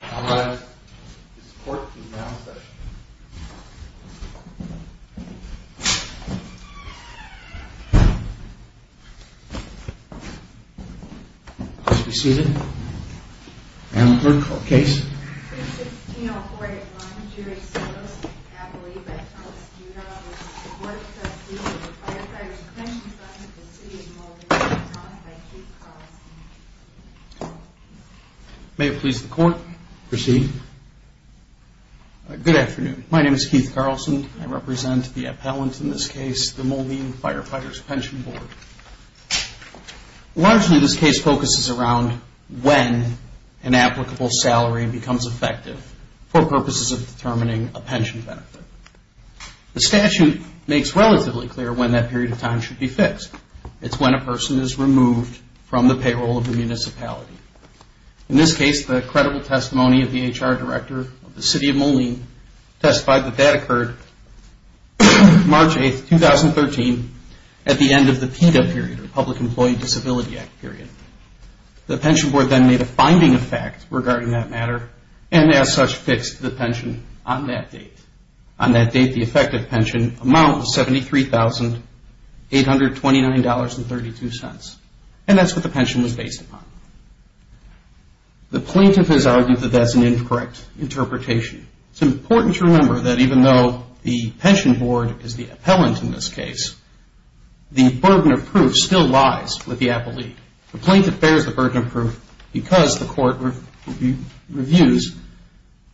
I'll now ask the support team to announce the session. Please be seated. Madam Clerk, case. 3-16-0489, Jerry Sottos, abolieved by Thomas Buda, of the Board of Trustees of the Firefighters' Pension Fund of the City of Moline, abolieved by Keith Carlson. May it please the Court. Proceed. Good afternoon. My name is Keith Carlson. I represent the appellant in this case, the Moline Firefighters' Pension Board. Largely, this case focuses around when an applicable salary becomes effective for purposes of determining a pension benefit. The statute makes relatively clear when that period of time should be fixed. It's when a person is removed from the payroll of the municipality. In this case, the credible testimony of the HR Director of the City of Moline testified that that occurred March 8, 2013, at the end of the PETA period, or Public Employee Disability Act period. The pension board then made a finding of fact regarding that matter, and as such, fixed the pension on that date. On that date, the effective pension amount was $73,829.32. And that's what the pension was based upon. The plaintiff has argued that that's an incorrect interpretation. It's important to remember that even though the pension board is the appellant in this case, the burden of proof still lies with the appellate. The plaintiff bears the burden of proof because the court reviews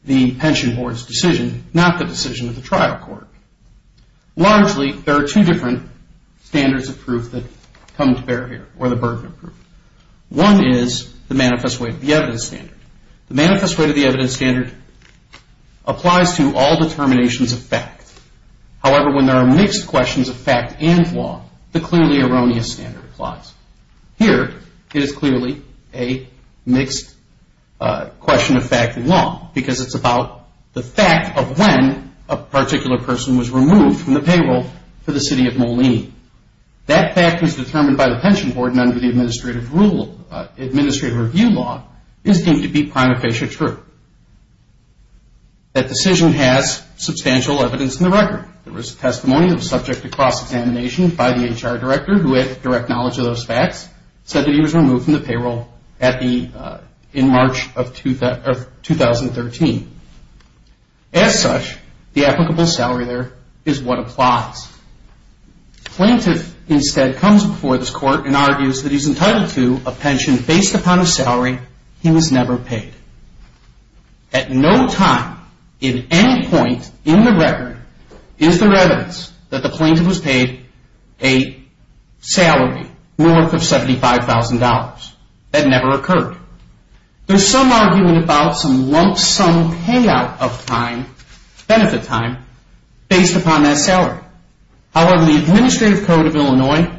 the pension board's decision, not the decision of the trial court. Largely, there are two different standards of proof that come to bear here, or the burden of proof. One is the manifest weight of the evidence standard. The manifest weight of the evidence standard applies to all determinations of fact. However, when there are mixed questions of fact and law, the clearly erroneous standard applies. Here, it is clearly a mixed question of fact and law, because it's about the fact of when a particular person was removed from the payroll for the City of Moline. That fact was determined by the pension board, and under the administrative review law, is deemed to be prima facie true. That decision has substantial evidence in the record. There was testimony that was subject to cross-examination by the HR director, who had direct knowledge of those facts, said that he was removed from the payroll in March of 2013. As such, the applicable salary there is what applies. The plaintiff instead comes before this court and argues that he's entitled to a pension based upon a salary he was never paid. At no time, in any point in the record, is there evidence that the plaintiff was paid a salary more than $75,000. That never occurred. There's some argument about some lump sum payout of time, benefit time, based upon that salary. However, the administrative code of Illinois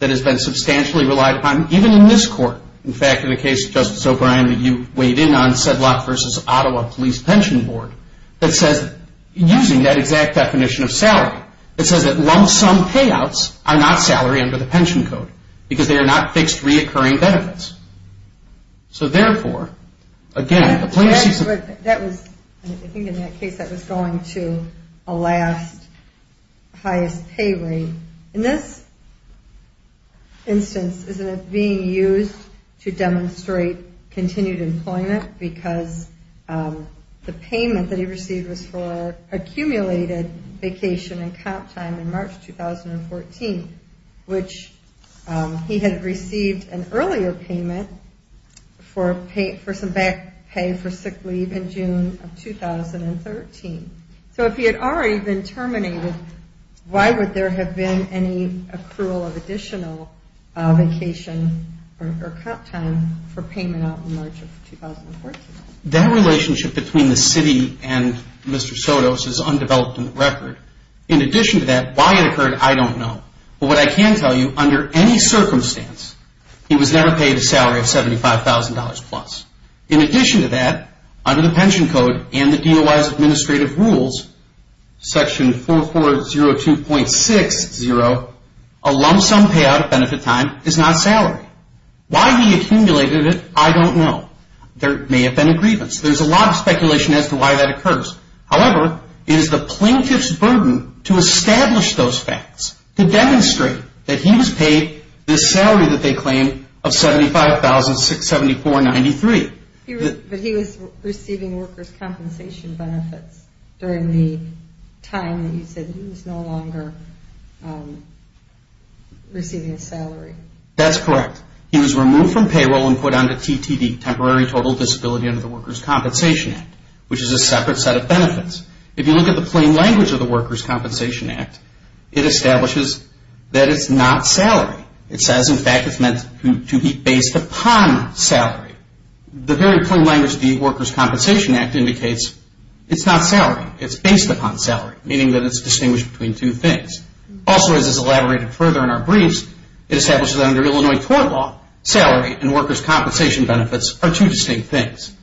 that has been substantially relied upon, even in this court, in fact in the case of Justice O'Brien that you weighed in on Sedlock v. Ottawa Police Pension Board, that says, using that exact definition of salary, it says that lump sum payouts are not salary under the pension code, because they are not fixed reoccurring benefits. So therefore, again, the plaintiff sees... I think in that case that was going to a last highest pay rate. In this instance, isn't it being used to demonstrate continued employment, because the payment that he received was for accumulated vacation and comp time in March 2014, which he had received an earlier payment for some back pay for sick leave in June of 2013. So if he had already been terminated, why would there have been any accrual of additional vacation or comp time for payment out in March of 2014? That relationship between the city and Mr. Sotos is undeveloped in the record. In addition to that, why it occurred, I don't know. But what I can tell you, under any circumstance, he was never paid a salary of $75,000 plus. In addition to that, under the pension code and the DOI's administrative rules, section 4402.60, a lump sum payout of benefit time is not salary. Why he accumulated it, I don't know. There may have been a grievance. There's a lot of speculation as to why that occurs. However, it is the plaintiff's burden to establish those facts, to demonstrate that he was paid the salary that they claim of $75,674.93. But he was receiving workers' compensation benefits during the time that you said he was no longer receiving a salary. That's correct. He was removed from payroll and put under TTD, Temporary Total Disability under the Workers' Compensation Act, which is a separate set of benefits. If you look at the plain language of the Workers' Compensation Act, it establishes that it's not salary. It says, in fact, it's meant to be based upon salary. The very plain language of the Workers' Compensation Act indicates it's not salary. It's based upon salary, meaning that it's distinguished between two things. Also, as is elaborated further in our briefs, it establishes that under Illinois court law, salary and workers' compensation benefits are two distinct things.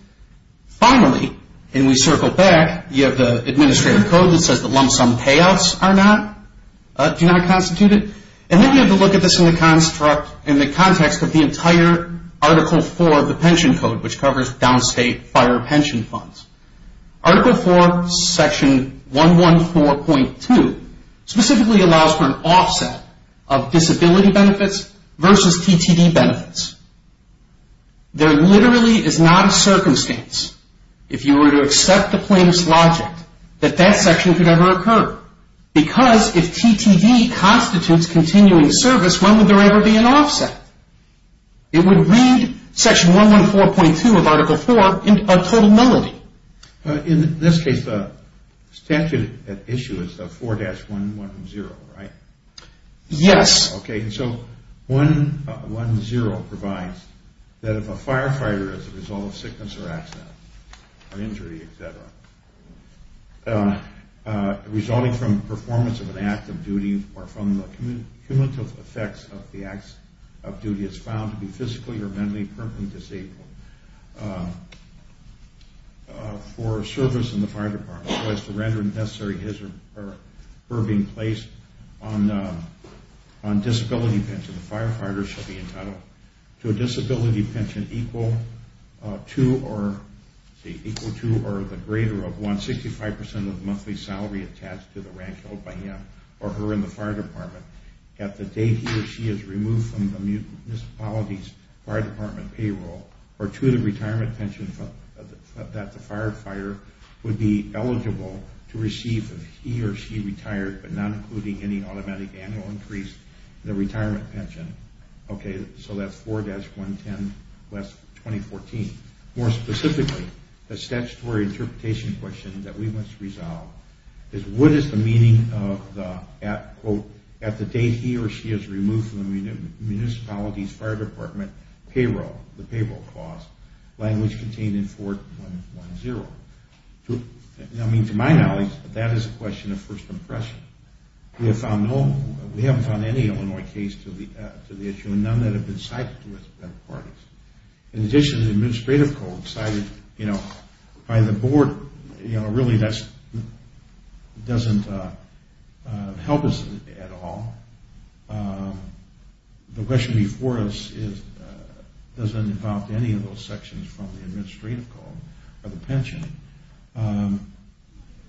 Finally, and we circle back, you have the administrative code that says that lump sum payouts do not constitute it. Then you have to look at this in the context of the entire Article IV of the pension code, which covers downstate fire pension funds. Article IV, Section 114.2, specifically allows for an offset of disability benefits versus TTD benefits. There literally is not a circumstance, if you were to accept the plaintiff's logic, that that section could ever occur. Because if TTD constitutes continuing service, when would there ever be an offset? It would read Section 114.2 of Article IV in a total nullity. In this case, the statute at issue is 4-110, right? Yes. Okay, so 1-1-0 provides that if a firefighter, as a result of sickness or accident or injury, etc., resulting from performance of an act of duty or from the cumulative effects of the acts of duty, is found to be physically or mentally permanently disabled for service in the fire department, as well as to render necessary his or her being placed on disability pension, the firefighter shall be entitled to a disability pension equal to or the greater of 165% of the monthly salary attached to the rank held by him or her in the fire department, at the date he or she is removed from the municipality's fire department payroll, or to the retirement pension that the firefighter would be eligible to receive if he or she retired, but not including any automatic annual increase in their retirement pension. Okay, so that's 4-110 West 2014. More specifically, the statutory interpretation question that we must resolve is what is the meaning of the at the date he or she is removed from the municipality's fire department payroll, the payroll cost, language contained in 4-110? I mean, to my knowledge, that is a question of first impression. We have found no, we haven't found any Illinois case to the issue, and none that have been cited to us by the parties. In addition, the administrative code cited, you know, by the board, you know, really that doesn't help us at all. The question before us doesn't involve any of those sections from the administrative code or the pension.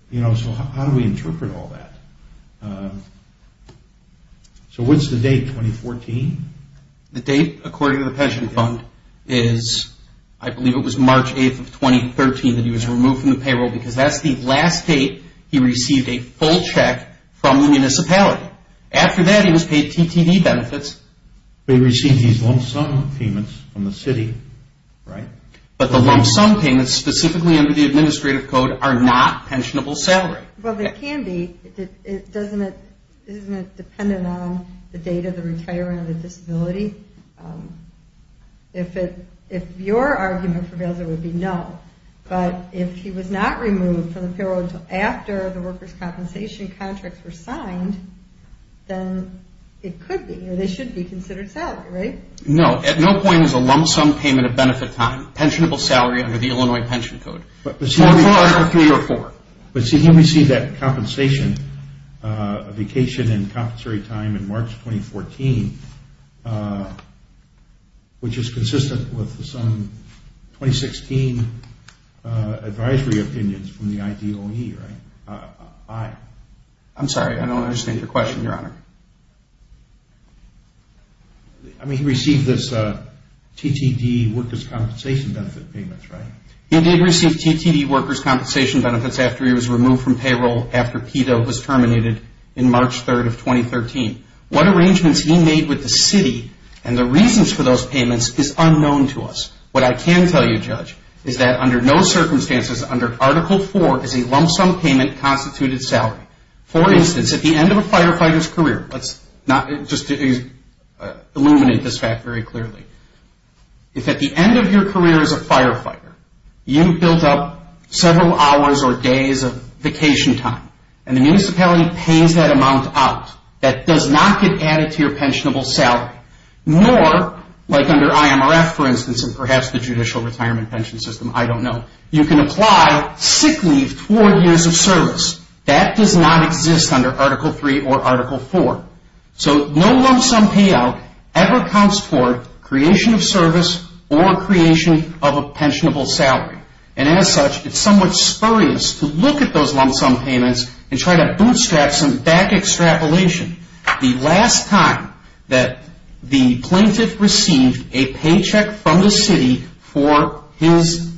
You know, so how do we interpret all that? So what's the date, 2014? The date, according to the pension fund, is I believe it was March 8th of 2013 that he was removed from the payroll because that's the last date he received a full check from the municipality. After that, he was paid TTV benefits. They received these lump sum payments from the city, right? But the lump sum payments, specifically under the administrative code, are not pensionable salary. Well, they can be. Isn't it dependent on the date of the retirement of the disability? If your argument prevails, it would be no. But if he was not removed from the payroll until after the workers' compensation contracts were signed, then it could be. They should be considered salary, right? No, at no point is a lump sum payment of benefit time pensionable salary under the Illinois pension code. One, two, or three, or four? But see, he received that compensation vacation and compensatory time in March 2014, which is consistent with some 2016 advisory opinions from the IDOE, right? I'm sorry, I don't understand your question, Your Honor. I mean, he received this TTD workers' compensation benefit payments, right? He did receive TTD workers' compensation benefits after he was removed from payroll after PETA was terminated in March 3rd of 2013. What arrangements he made with the city and the reasons for those payments is unknown to us. What I can tell you, Judge, is that under no circumstances under Article IV is a lump sum payment constituted salary. For instance, at the end of a firefighter's career, let's just illuminate this fact very clearly. If at the end of your career as a firefighter you've built up several hours or days of vacation time and the municipality pays that amount out, that does not get added to your pensionable salary. Nor, like under IMRF, for instance, and perhaps the Judicial Retirement Pension System, I don't know, you can apply sick leave toward years of service. That does not exist under Article III or Article IV. So no lump sum payout ever counts toward creation of service or creation of a pensionable salary. And as such, it's somewhat spurious to look at those lump sum payments and try to bootstrap some back extrapolation. The last time that the plaintiff received a paycheck from the city for his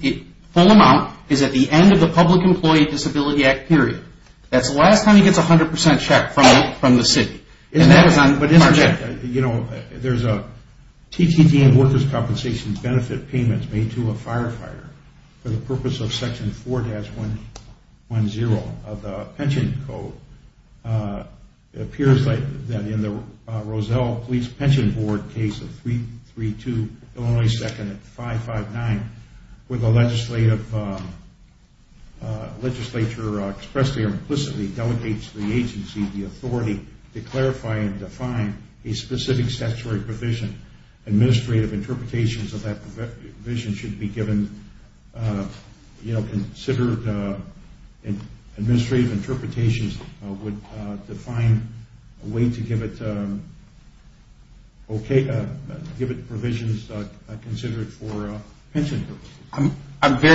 full amount is at the end of the Public Employee Disability Act period. That's the last time he gets a 100% check from the city. You know, there's a TTT and workers' compensation benefit payment made to a firefighter for the purpose of Section 4-110 of the Pension Code. It appears that in the Roselle Police Pension Board case of 332 Illinois 2nd 559, where the legislature expressly or implicitly delegates to the agency the authority to clarify and define a specific statutory provision. Administrative interpretations of that provision should be given, you know, I'm very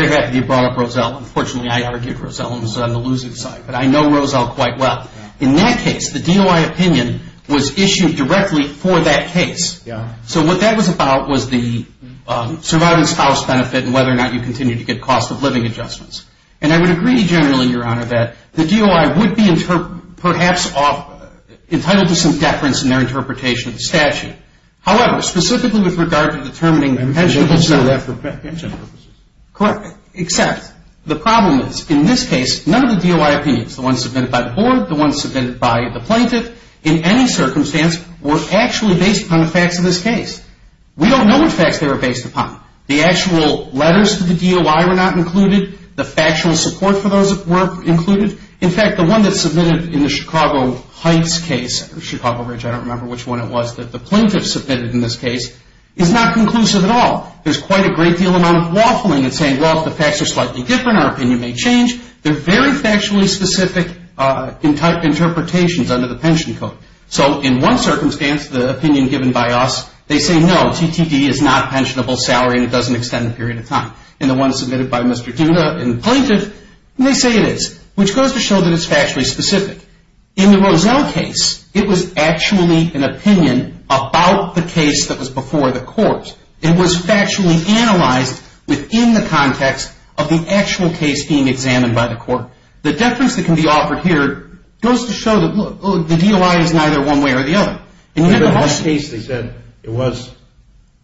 happy you brought up Roselle. Unfortunately, I argued Roselle and was on the losing side, but I know Roselle quite well. In that case, the DOI opinion was issued directly for that case. So what that was about was the surviving spouse benefit and whether or not you continue to get cost of living adjustments. And I would agree generally, Your Honor, that the DOI would be perhaps entitled to some deference in their interpretation of the statute. However, specifically with regard to determining pension purposes. Correct. Except the problem is, in this case, none of the DOI opinions, the ones submitted by the board, the ones submitted by the plaintiff, in any circumstance were actually based upon the facts of this case. We don't know which facts they were based upon. The actual letters to the DOI were not included. The factual support for those were included. In fact, the one that's submitted in the Chicago Heights case, or Chicago Ridge, I don't remember which one it was, that the plaintiff submitted in this case, is not conclusive at all. There's quite a great deal of waffling in saying, well, if the facts are slightly different, our opinion may change. They're very factually specific interpretations under the pension code. So in one circumstance, the opinion given by us, they say, no, TTD is not pensionable salary and it doesn't extend the period of time. And the one submitted by Mr. Duna in the plaintiff, they say it is, which goes to show that it's factually specific. In the Roselle case, it was actually an opinion about the case that was before the court. It was factually analyzed within the context of the actual case being examined by the court. The difference that can be offered here goes to show that the DOI is neither one way or the other. In that case, they said it was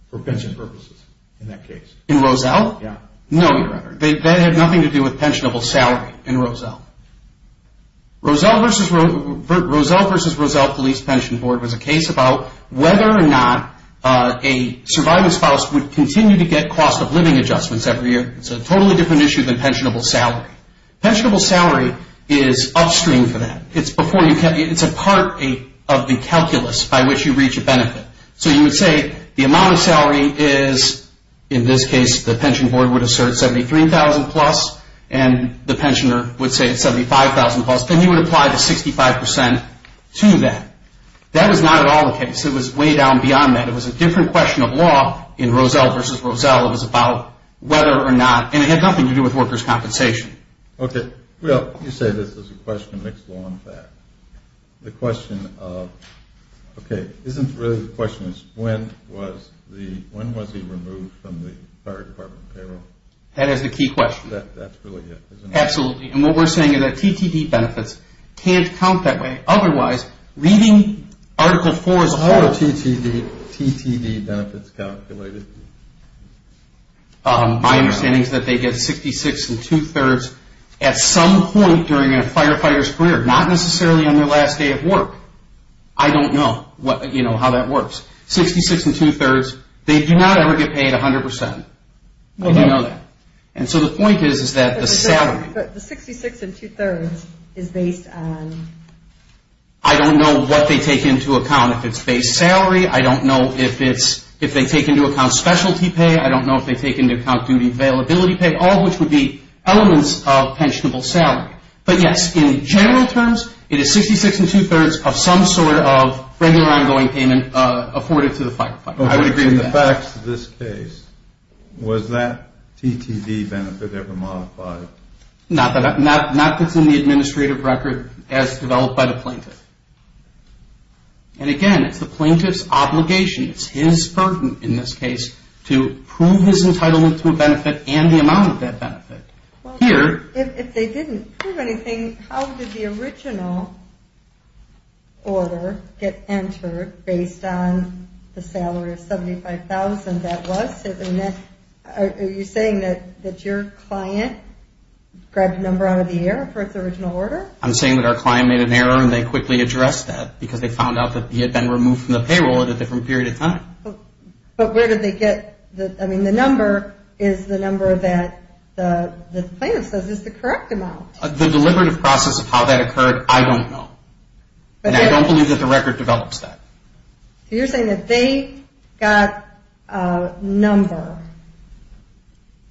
for pension purposes, in that case. In Roselle? Yeah. No, Your Honor. That had nothing to do with pensionable salary in Roselle. Roselle v. Roselle Police Pension Board was a case about whether or not a surviving spouse would continue to get cost of living adjustments every year. It's a totally different issue than pensionable salary. Pensionable salary is upstream for that. It's a part of the calculus by which you reach a benefit. So you would say the amount of salary is, in this case, the pension board would assert 73,000 plus, and the pensioner would say it's 75,000 plus, and you would apply the 65 percent to that. That was not at all the case. It was way down beyond that. It was a different question of law in Roselle v. Roselle. It was about whether or not, and it had nothing to do with workers' compensation. Okay. Well, you say this is a question of mixed law and fact. The question of, okay, isn't really the question of when was he removed from the fire department payroll? That is the key question. That's really it, isn't it? Absolutely. And what we're saying is that TTD benefits can't count that way. Otherwise, reading Article IV as a whole. How are TTD benefits calculated? My understanding is that they get 66 and two-thirds at some point during a firefighter's career. Not necessarily on their last day of work. I don't know how that works. Sixty-six and two-thirds, they do not ever get paid 100 percent. I do know that. And so the point is that the salary. But the 66 and two-thirds is based on? I don't know what they take into account. If it's base salary, I don't know if they take into account specialty pay. I don't know if they take into account duty availability pay, all of which would be elements of pensionable salary. But, yes, in general terms, it is 66 and two-thirds of some sort of regular ongoing payment afforded to the firefighter. I would agree with that. In the facts of this case, was that TTD benefit ever modified? Not that it's in the administrative record as developed by the plaintiff. And, again, it's the plaintiff's obligation. It's his burden in this case to prove his entitlement to a benefit and the amount of that benefit. If they didn't prove anything, how did the original order get entered based on the salary of $75,000 that was? Are you saying that your client grabbed a number out of the air for its original order? I'm saying that our client made an error and they quickly addressed that because they found out that he had been removed from the payroll at a different period of time. But where did they get the – I mean, the number is the number that the plaintiff says is the correct amount. The deliberative process of how that occurred, I don't know. And I don't believe that the record develops that. So you're saying that they got a number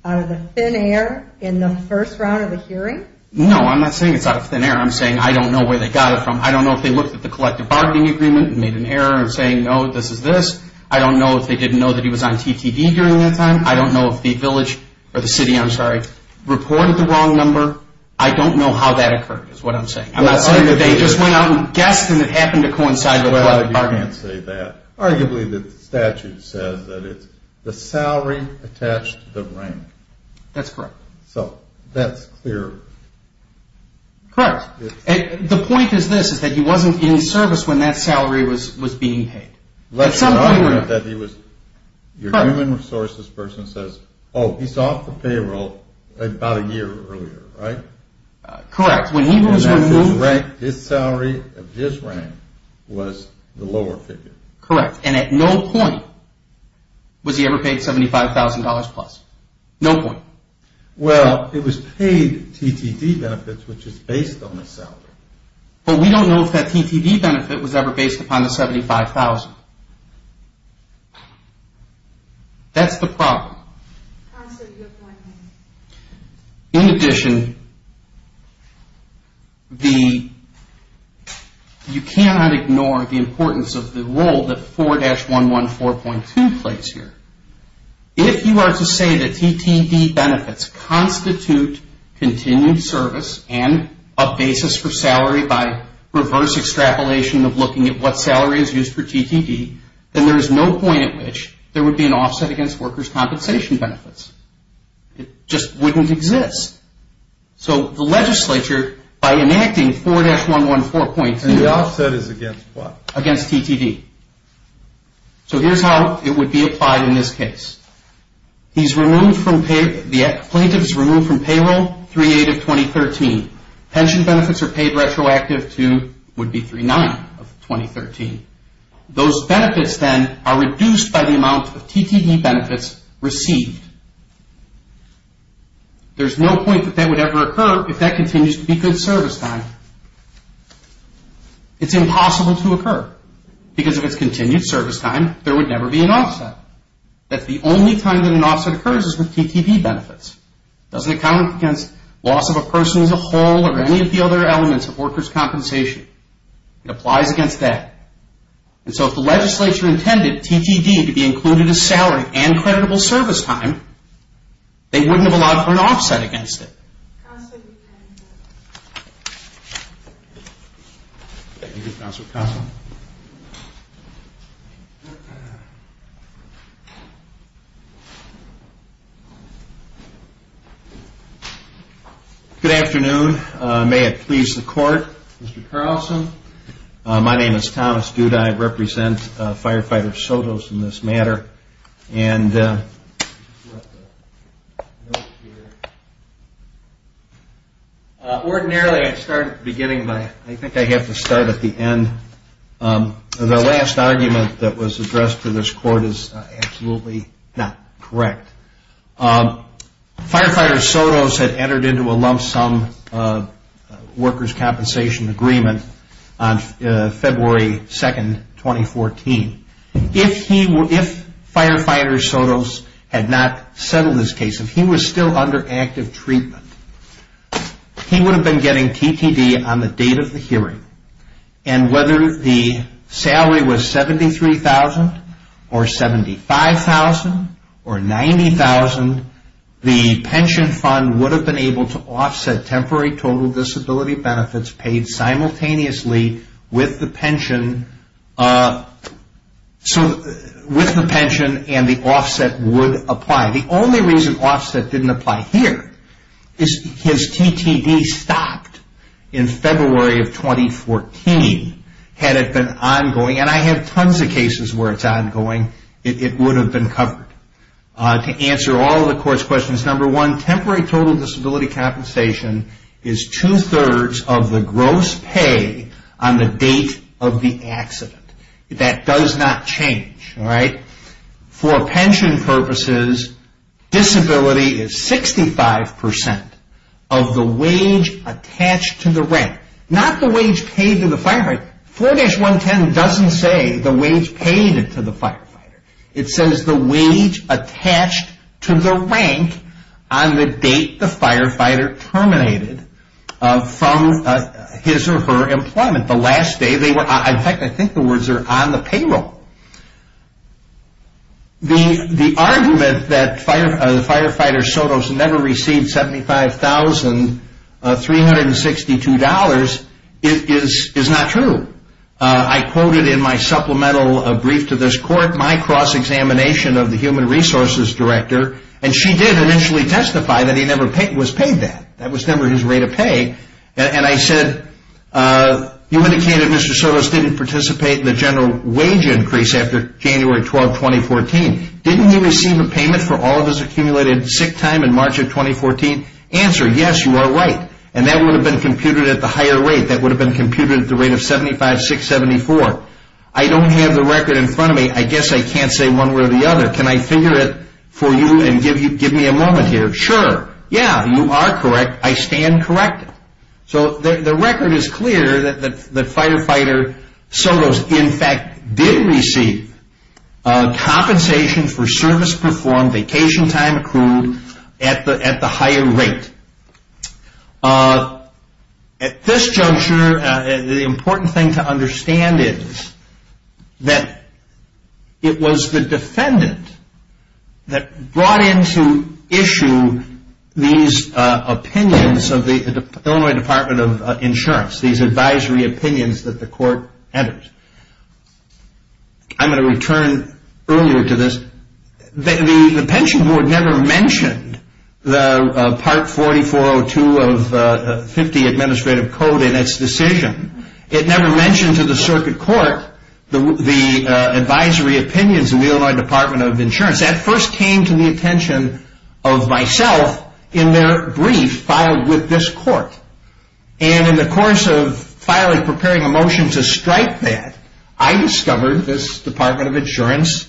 out of the thin air in the first round of the hearing? No, I'm not saying it's out of thin air. I'm saying I don't know where they got it from. I don't know if they looked at the collective bargaining agreement and made an error in saying, no, this is this. I don't know if they didn't know that he was on TTD during that time. I don't know if the village – or the city, I'm sorry – reported the wrong number. I don't know how that occurred is what I'm saying. I'm not saying that they just went out and guessed and it happened to coincide with collective bargaining. Well, you can't say that. Arguably, the statute says that it's the salary attached to the rank. That's correct. So that's clear. Correct. The point is this, is that he wasn't in service when that salary was being paid. Unless you're not aware that he was – your human resources person says, oh, he's off the payroll about a year earlier, right? Correct. When he was removed – And that his rank, his salary of his rank was the lower figure. Correct. And at no point was he ever paid $75,000 plus. No point. Well, it was paid TTD benefits, which is based on the salary. But we don't know if that TTD benefit was ever based upon the $75,000. That's the problem. I'm sorry, you have one minute. In addition, the – you cannot ignore the importance of the role that 4-114.2 plays here. If you are to say that TTD benefits constitute continued service and a basis for salary by reverse extrapolation of looking at what salary is used for TTD, then there is no point at which there would be an offset against workers' compensation benefits. It just wouldn't exist. So the legislature, by enacting 4-114.2 – And the offset is against what? Against TTD. So here's how it would be applied in this case. He's removed from – the plaintiff is removed from payroll 3-8 of 2013. Pension benefits are paid retroactive to – would be 3-9 of 2013. Those benefits, then, are reduced by the amount of TTD benefits received. There's no point that that would ever occur if that continues to be good service time. It's impossible to occur. Because if it's continued service time, there would never be an offset. That's the only time that an offset occurs is with TTD benefits. It doesn't account against loss of a person as a whole or any of the other elements of workers' compensation. It applies against that. And so if the legislature intended TTD to be included as salary and creditable service time, they wouldn't have allowed for an offset against it. Thank you, Counselor Carlson. Good afternoon. May it please the Court, Mr. Carlson. My name is Thomas Dudai. I represent Firefighter Soto's in this matter. And ordinarily I start at the beginning, but I think I have to start at the end. The last argument that was addressed to this Court is absolutely not correct. Firefighter Soto's had entered into a lump sum workers' compensation agreement on February 2, 2014. If Firefighter Soto's had not settled this case, if he was still under active treatment, he would have been getting TTD on the date of the hearing. And whether the salary was $73,000 or $75,000 or $90,000, the pension fund would have been able to offset temporary total disability benefits paid simultaneously with the pension and the offset would apply. The only reason offset didn't apply here is his TTD stopped in February of 2014. Had it been ongoing, and I have tons of cases where it's ongoing, it would have been covered. To answer all of the Court's questions, number one, temporary total disability compensation is two-thirds of the gross pay on the date of the accident. That does not change. For pension purposes, disability is 65% of the wage attached to the rank. Not the wage paid to the firefighter. 4-110 doesn't say the wage paid to the firefighter. It says the wage attached to the rank on the date the firefighter terminated from his or her employment. In fact, I think the words are on the payroll. The argument that Firefighter Soto's never received $75,362 is not true. I quoted in my supplemental brief to this Court my cross-examination of the Human Resources Director. She did initially testify that he was never paid that. That was never his rate of pay. I said, you indicated Mr. Soto's didn't participate in the general wage increase after January 12, 2014. Didn't he receive a payment for all of his accumulated sick time in March of 2014? Answer, yes, you are right. That would have been computed at the higher rate. That would have been computed at the rate of $75,674. I don't have the record in front of me. I guess I can't say one way or the other. Can I figure it for you and give me a moment here? Sure, yeah, you are correct. I stand corrected. So the record is clear that Firefighter Soto's, in fact, did receive compensation for service performed, vacation time accrued at the higher rate. At this juncture, the important thing to understand is that it was the defendant that brought into issue these opinions of the Illinois Department of Insurance, these advisory opinions that the Court entered. I'm going to return earlier to this. The Pension Board never mentioned the Part 4402 of 50 Administrative Code in its decision. It never mentioned to the Circuit Court the advisory opinions of the Illinois Department of Insurance. That first came to the attention of myself in their brief filed with this Court. And in the course of filing, preparing a motion to strike that, I discovered this Department of Insurance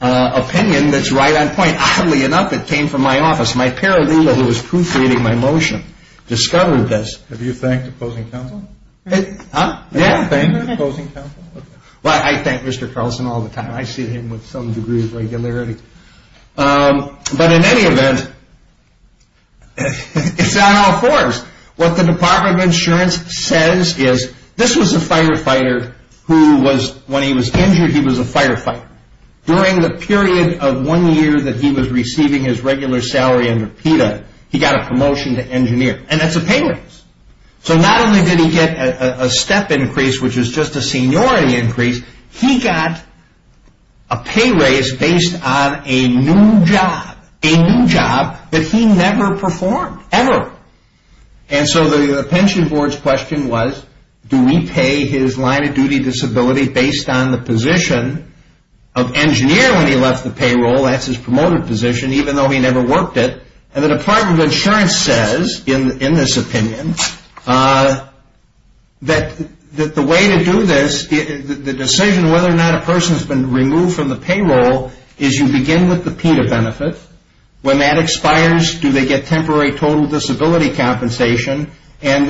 opinion that's right on point. Oddly enough, it came from my office. My paralegal who was proofreading my motion discovered this. Have you thanked the opposing counsel? Huh? Yeah. Have you thanked the opposing counsel? Well, I thank Mr. Carlson all the time. I see him with some degree of regularity. But in any event, it's on all forms. What the Department of Insurance says is, this was a firefighter who was, when he was injured, he was a firefighter. During the period of one year that he was receiving his regular salary under PETA, he got a promotion to engineer. And that's a pay raise. So not only did he get a step increase, which is just a seniority increase, he got a pay raise based on a new job. A new job that he never performed, ever. And so the pension board's question was, do we pay his line-of-duty disability based on the position of engineer when he left the payroll? That's his promoted position, even though he never worked it. And the Department of Insurance says, in this opinion, that the way to do this, the decision whether or not a person has been removed from the payroll, is you begin with the PETA benefit. When that expires, do they get temporary total disability compensation? And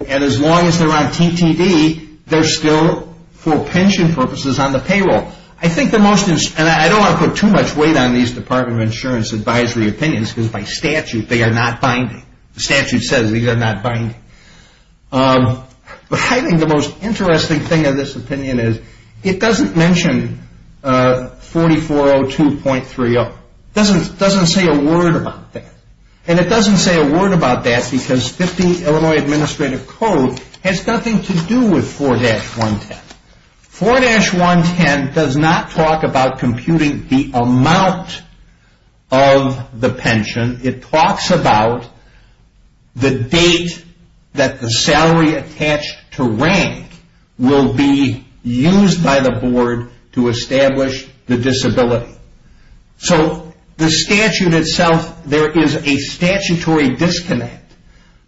as long as they're on TTD, they're still, for pension purposes, on the payroll. I think the most, and I don't want to put too much weight on these Department of Insurance advisory opinions, because by statute, they are not binding. The statute says these are not binding. But I think the most interesting thing in this opinion is it doesn't mention 4402.30. It doesn't say a word about that. And it doesn't say a word about that because 50 Illinois Administrative Code has nothing to do with 4-110. 4-110 does not talk about computing the amount of the pension. It talks about the date that the salary attached to rank will be used by the board to establish the disability. So the statute itself, there is a statutory disconnect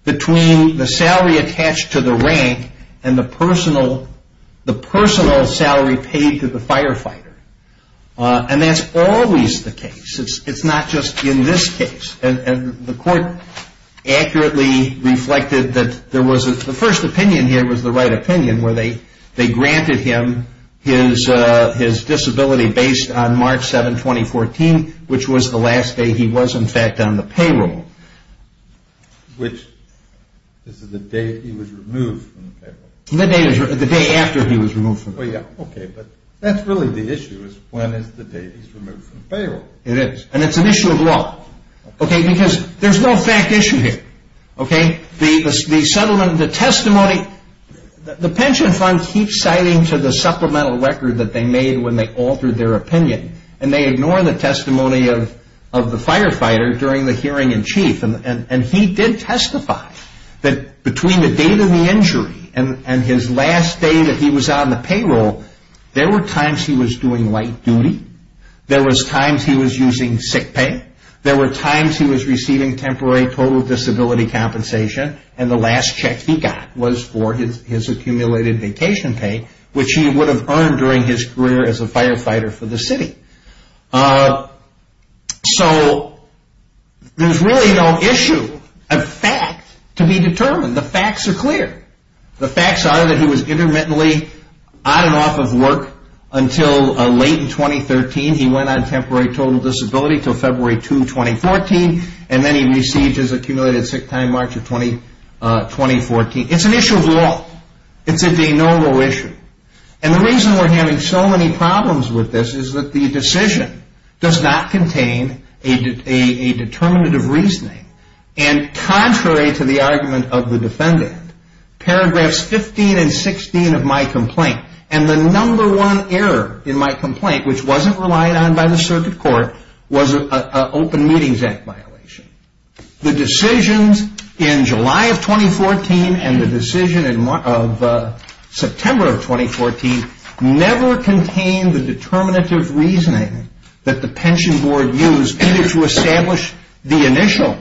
between the salary attached to the rank and the personal salary paid to the firefighter. And that's always the case. It's not just in this case. And the court accurately reflected that the first opinion here was the right opinion, where they granted him his disability based on March 7, 2014, which was the last day he was, in fact, on the payroll. Which is the day he was removed from the payroll. Well, yeah, okay, but that's really the issue is when is the day he's removed from the payroll? It is. And it's an issue of law. Okay, because there's no fact issue here. Okay? The settlement, the testimony, the pension fund keeps citing to the supplemental record that they made when they altered their opinion. And they ignore the testimony of the firefighter during the hearing in chief. And he did testify that between the date of the injury and his last day that he was on the payroll, there were times he was doing light duty, there was times he was using sick pay, there were times he was receiving temporary total disability compensation, and the last check he got was for his accumulated vacation pay, which he would have earned during his career as a firefighter for the city. So there's really no issue of fact to be determined. The facts are clear. The facts are that he was intermittently on and off of work until late in 2013. He went on temporary total disability until February 2, 2014, and then he received his accumulated sick time March of 2014. It's an issue of law. It's a de novo issue. And the reason we're having so many problems with this is that the decision does not contain a determinant of reasoning. And contrary to the argument of the defendant, paragraphs 15 and 16 of my complaint, and the number one error in my complaint, which wasn't relied on by the circuit court, was an Open Meetings Act violation. The decisions in July of 2014 and the decision in September of 2014 never contained the determinative reasoning that the pension board used either to establish the initial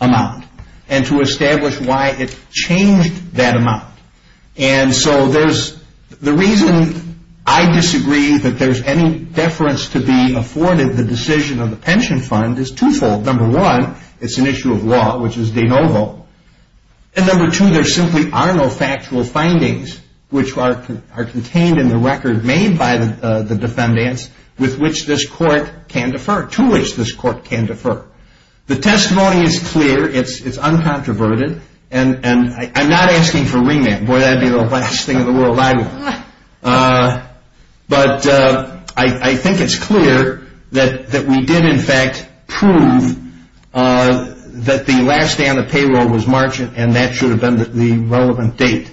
amount and to establish why it changed that amount. And so the reason I disagree that there's any deference to be afforded the decision on the pension fund is twofold. Number one, it's an issue of law, which is de novo. And number two, there simply are no factual findings which are contained in the record made by the defendants with which this court can defer, to which this court can defer. The testimony is clear. It's uncontroverted. And I'm not asking for remand. Boy, that would be the last thing in the world I would want. But I think it's clear that we did in fact prove that the last day on the payroll was March and that should have been the relevant date.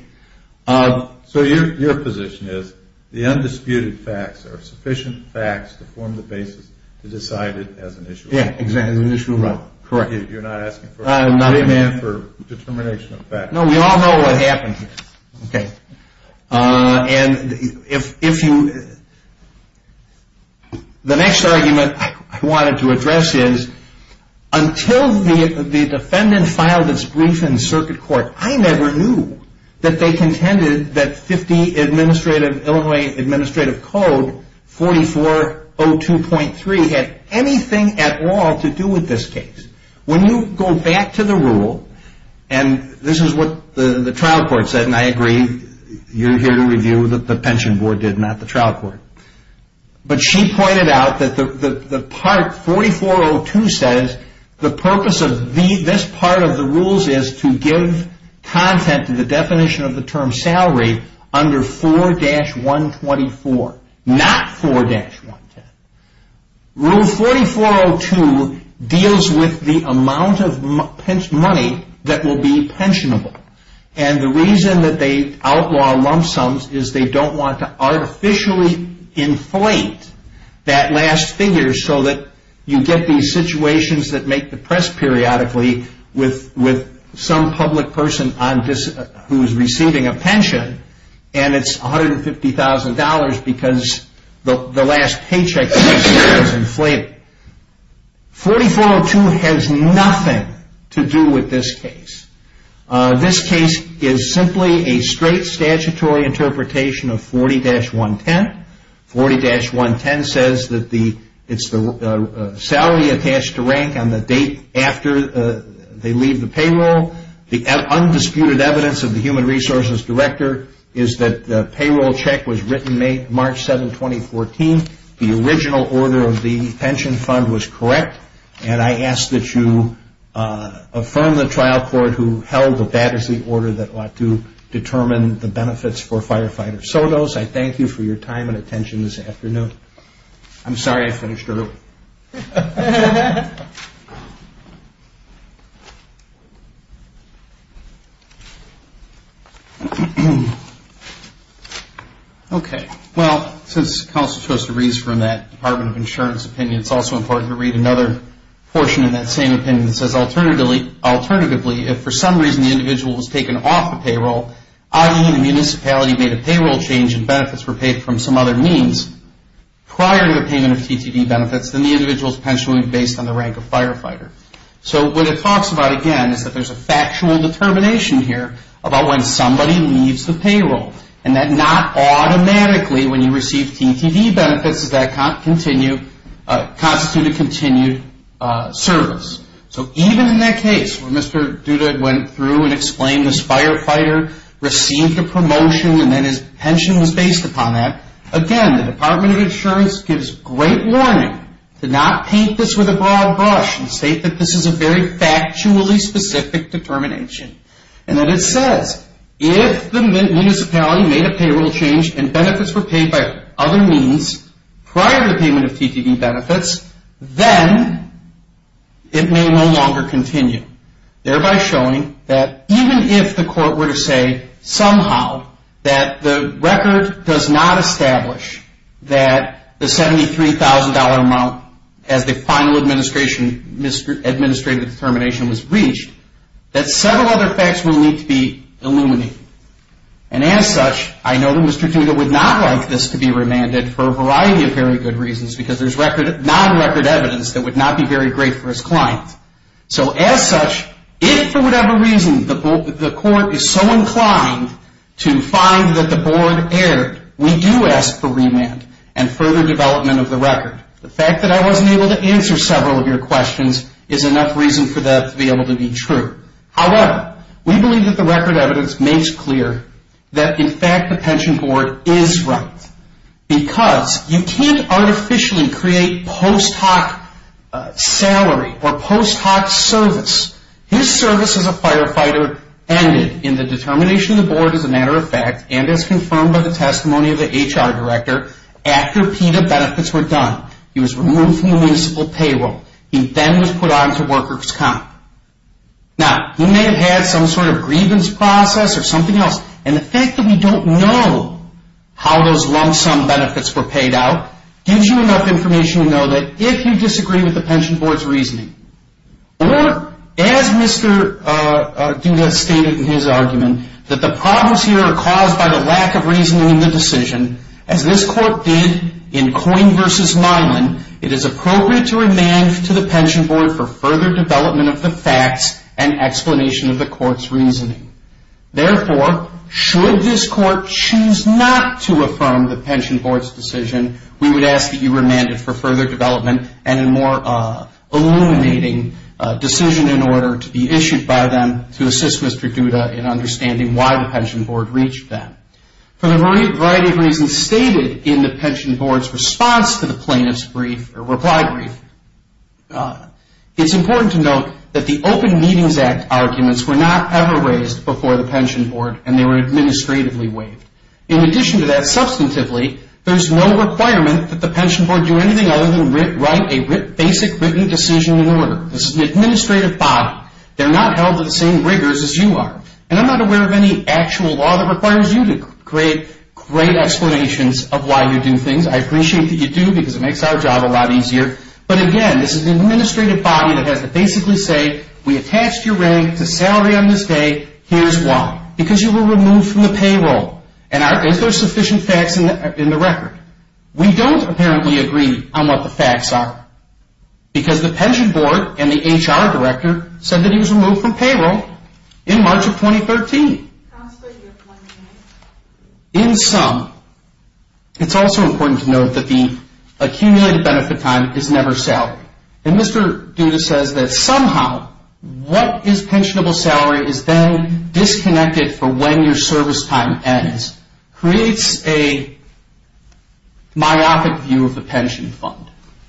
So your position is the undisputed facts are sufficient facts to form the basis to decide it as an issue of law. Yeah, exactly, as an issue of law. Correct. You're not asking for remand for determination of facts. No, we all know what happened here. Okay. And if you – the next argument I wanted to address is until the defendant filed its brief in circuit court, I never knew that they contended that 50 Illinois Administrative Code 4402.3 had anything at all to do with this case. When you go back to the rule, and this is what the trial court said, and I agree. You're here to review what the pension board did, not the trial court. But she pointed out that the part 4402 says the purpose of this part of the rules is to give content to the definition of the term salary under 4-124, not 4-110. Rule 4402 deals with the amount of money that will be pensionable. And the reason that they outlaw lump sums is they don't want to artificially inflate that last figure so that you get these situations that make the press periodically with some public person who is receiving a pension, and it's $150,000 because the last paycheck is inflated. 4402 has nothing to do with this case. This case is simply a straight statutory interpretation of 40-110. 40-110 says that it's the salary attached to rank on the date after they leave the payroll, the undisputed evidence of the human resources director is that the payroll check was written March 7, 2014. The original order of the pension fund was correct, and I ask that you affirm the trial court who held that that is the order that ought to determine the benefits for firefighters. If so those, I thank you for your time and attention this afternoon. I'm sorry I finished early. Okay. Well, since counsel chose to read from that Department of Insurance opinion, it's also important to read another portion in that same opinion that says, alternatively, if for some reason the individual was taken off the payroll, i.e., the municipality made a payroll change and benefits were paid from some other means prior to the payment of TTV benefits, then the individual's pension would be based on the rank of firefighter. So what it talks about, again, is that there's a factual determination here about when somebody leaves the payroll, and that not automatically when you receive TTV benefits does that constitute a continued service. So even in that case where Mr. Duda went through and explained this firefighter received a promotion and then his pension was based upon that, again, the Department of Insurance gives great warning to not paint this with a broad brush and state that this is a very factually specific determination. And then it says, if the municipality made a payroll change and benefits were paid by other means prior to the payment of TTV benefits, then it may no longer continue, thereby showing that even if the court were to say somehow that the record does not establish that the $73,000 amount as the final administrative determination was reached, that several other facts will need to be illuminated. And as such, I know that Mr. Duda would not like this to be remanded for a variety of very good reasons because there's non-record evidence that would not be very great for his client. So as such, if for whatever reason the court is so inclined to find that the board erred, we do ask for remand and further development of the record. The fact that I wasn't able to answer several of your questions is enough reason for that to be able to be true. However, we believe that the record evidence makes clear that in fact the pension board is right because you can't artificially create post hoc salary or post hoc service. His service as a firefighter ended in the determination of the board as a matter of fact and as confirmed by the testimony of the HR director, after PETA benefits were done, he was removed from the municipal payroll. He then was put onto workers' comp. Now, he may have had some sort of grievance process or something else, and the fact that we don't know how those lump sum benefits were paid out gives you enough information to know that if you disagree with the pension board's reasoning or as Mr. Duda stated in his argument, that the problems here are caused by the lack of reasoning in the decision, as this court did in Coyne v. Milan, it is appropriate to remand to the pension board for further development of the facts and explanation of the court's reasoning. Therefore, should this court choose not to affirm the pension board's decision, we would ask that you remand it for further development and a more illuminating decision in order to be issued by them to assist Mr. Duda in understanding why the pension board reached them. For the variety of reasons stated in the pension board's response to the plaintiff's reply brief, it's important to note that the Open Meetings Act arguments were not ever raised before the pension board and they were administratively waived. In addition to that, substantively, there's no requirement that the pension board do anything other than write a basic written decision in order. This is an administrative body. They're not held to the same rigors as you are, and I'm not aware of any actual law that requires you to create great explanations of why you do things. I appreciate that you do because it makes our job a lot easier. But again, this is an administrative body that has to basically say, we attached your rank to salary on this day. Here's why. Because you were removed from the payroll. And is there sufficient facts in the record? We don't apparently agree on what the facts are because the pension board and the HR director said that he was removed from payroll in March of 2013. In sum, it's also important to note that the accumulated benefit time is never salary. And Mr. Duda says that somehow, what is pensionable salary is then disconnected for when your service time ends. Creates a myopic view of the pension fund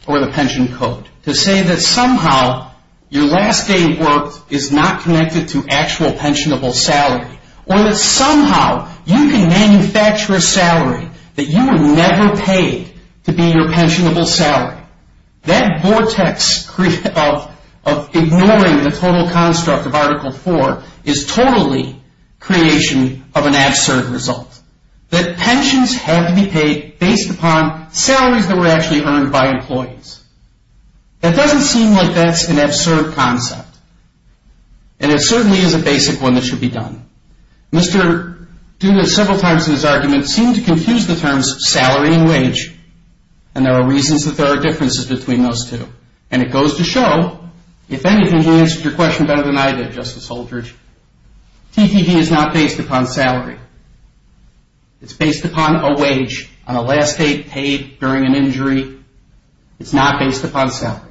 or the pension code to say that somehow, your last day of work is not connected to actual pensionable salary. Or that somehow, you can manufacture a salary that you were never paid to be your pensionable salary. That vortex of ignoring the total construct of Article 4 is totally creation of an absurd result. That pensions have to be paid based upon salaries that were actually earned by employees. That doesn't seem like that's an absurd concept. And it certainly is a basic one that should be done. Mr. Duda, several times in his argument, seemed to confuse the terms salary and wage. And there are reasons that there are differences between those two. And it goes to show, if anything, he answered your question better than I did, Justice Holdridge. TTD is not based upon salary. It's based upon a wage on a last day paid during an injury. It's not based upon salary.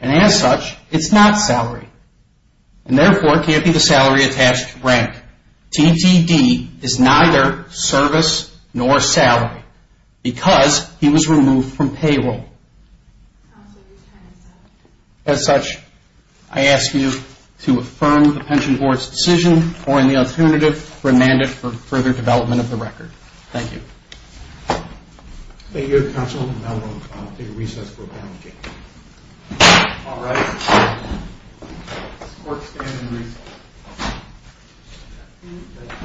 And as such, it's not salary. And therefore, it can't be the salary attached to rank. TTD is neither service nor salary because he was removed from payroll. As such, I ask you to affirm the Pension Board's decision, or in the alternative, remand it for further development of the record. Thank you. Thank you, Counsel. And now we'll take a recess for a panel debate. All right. This court stands in recess.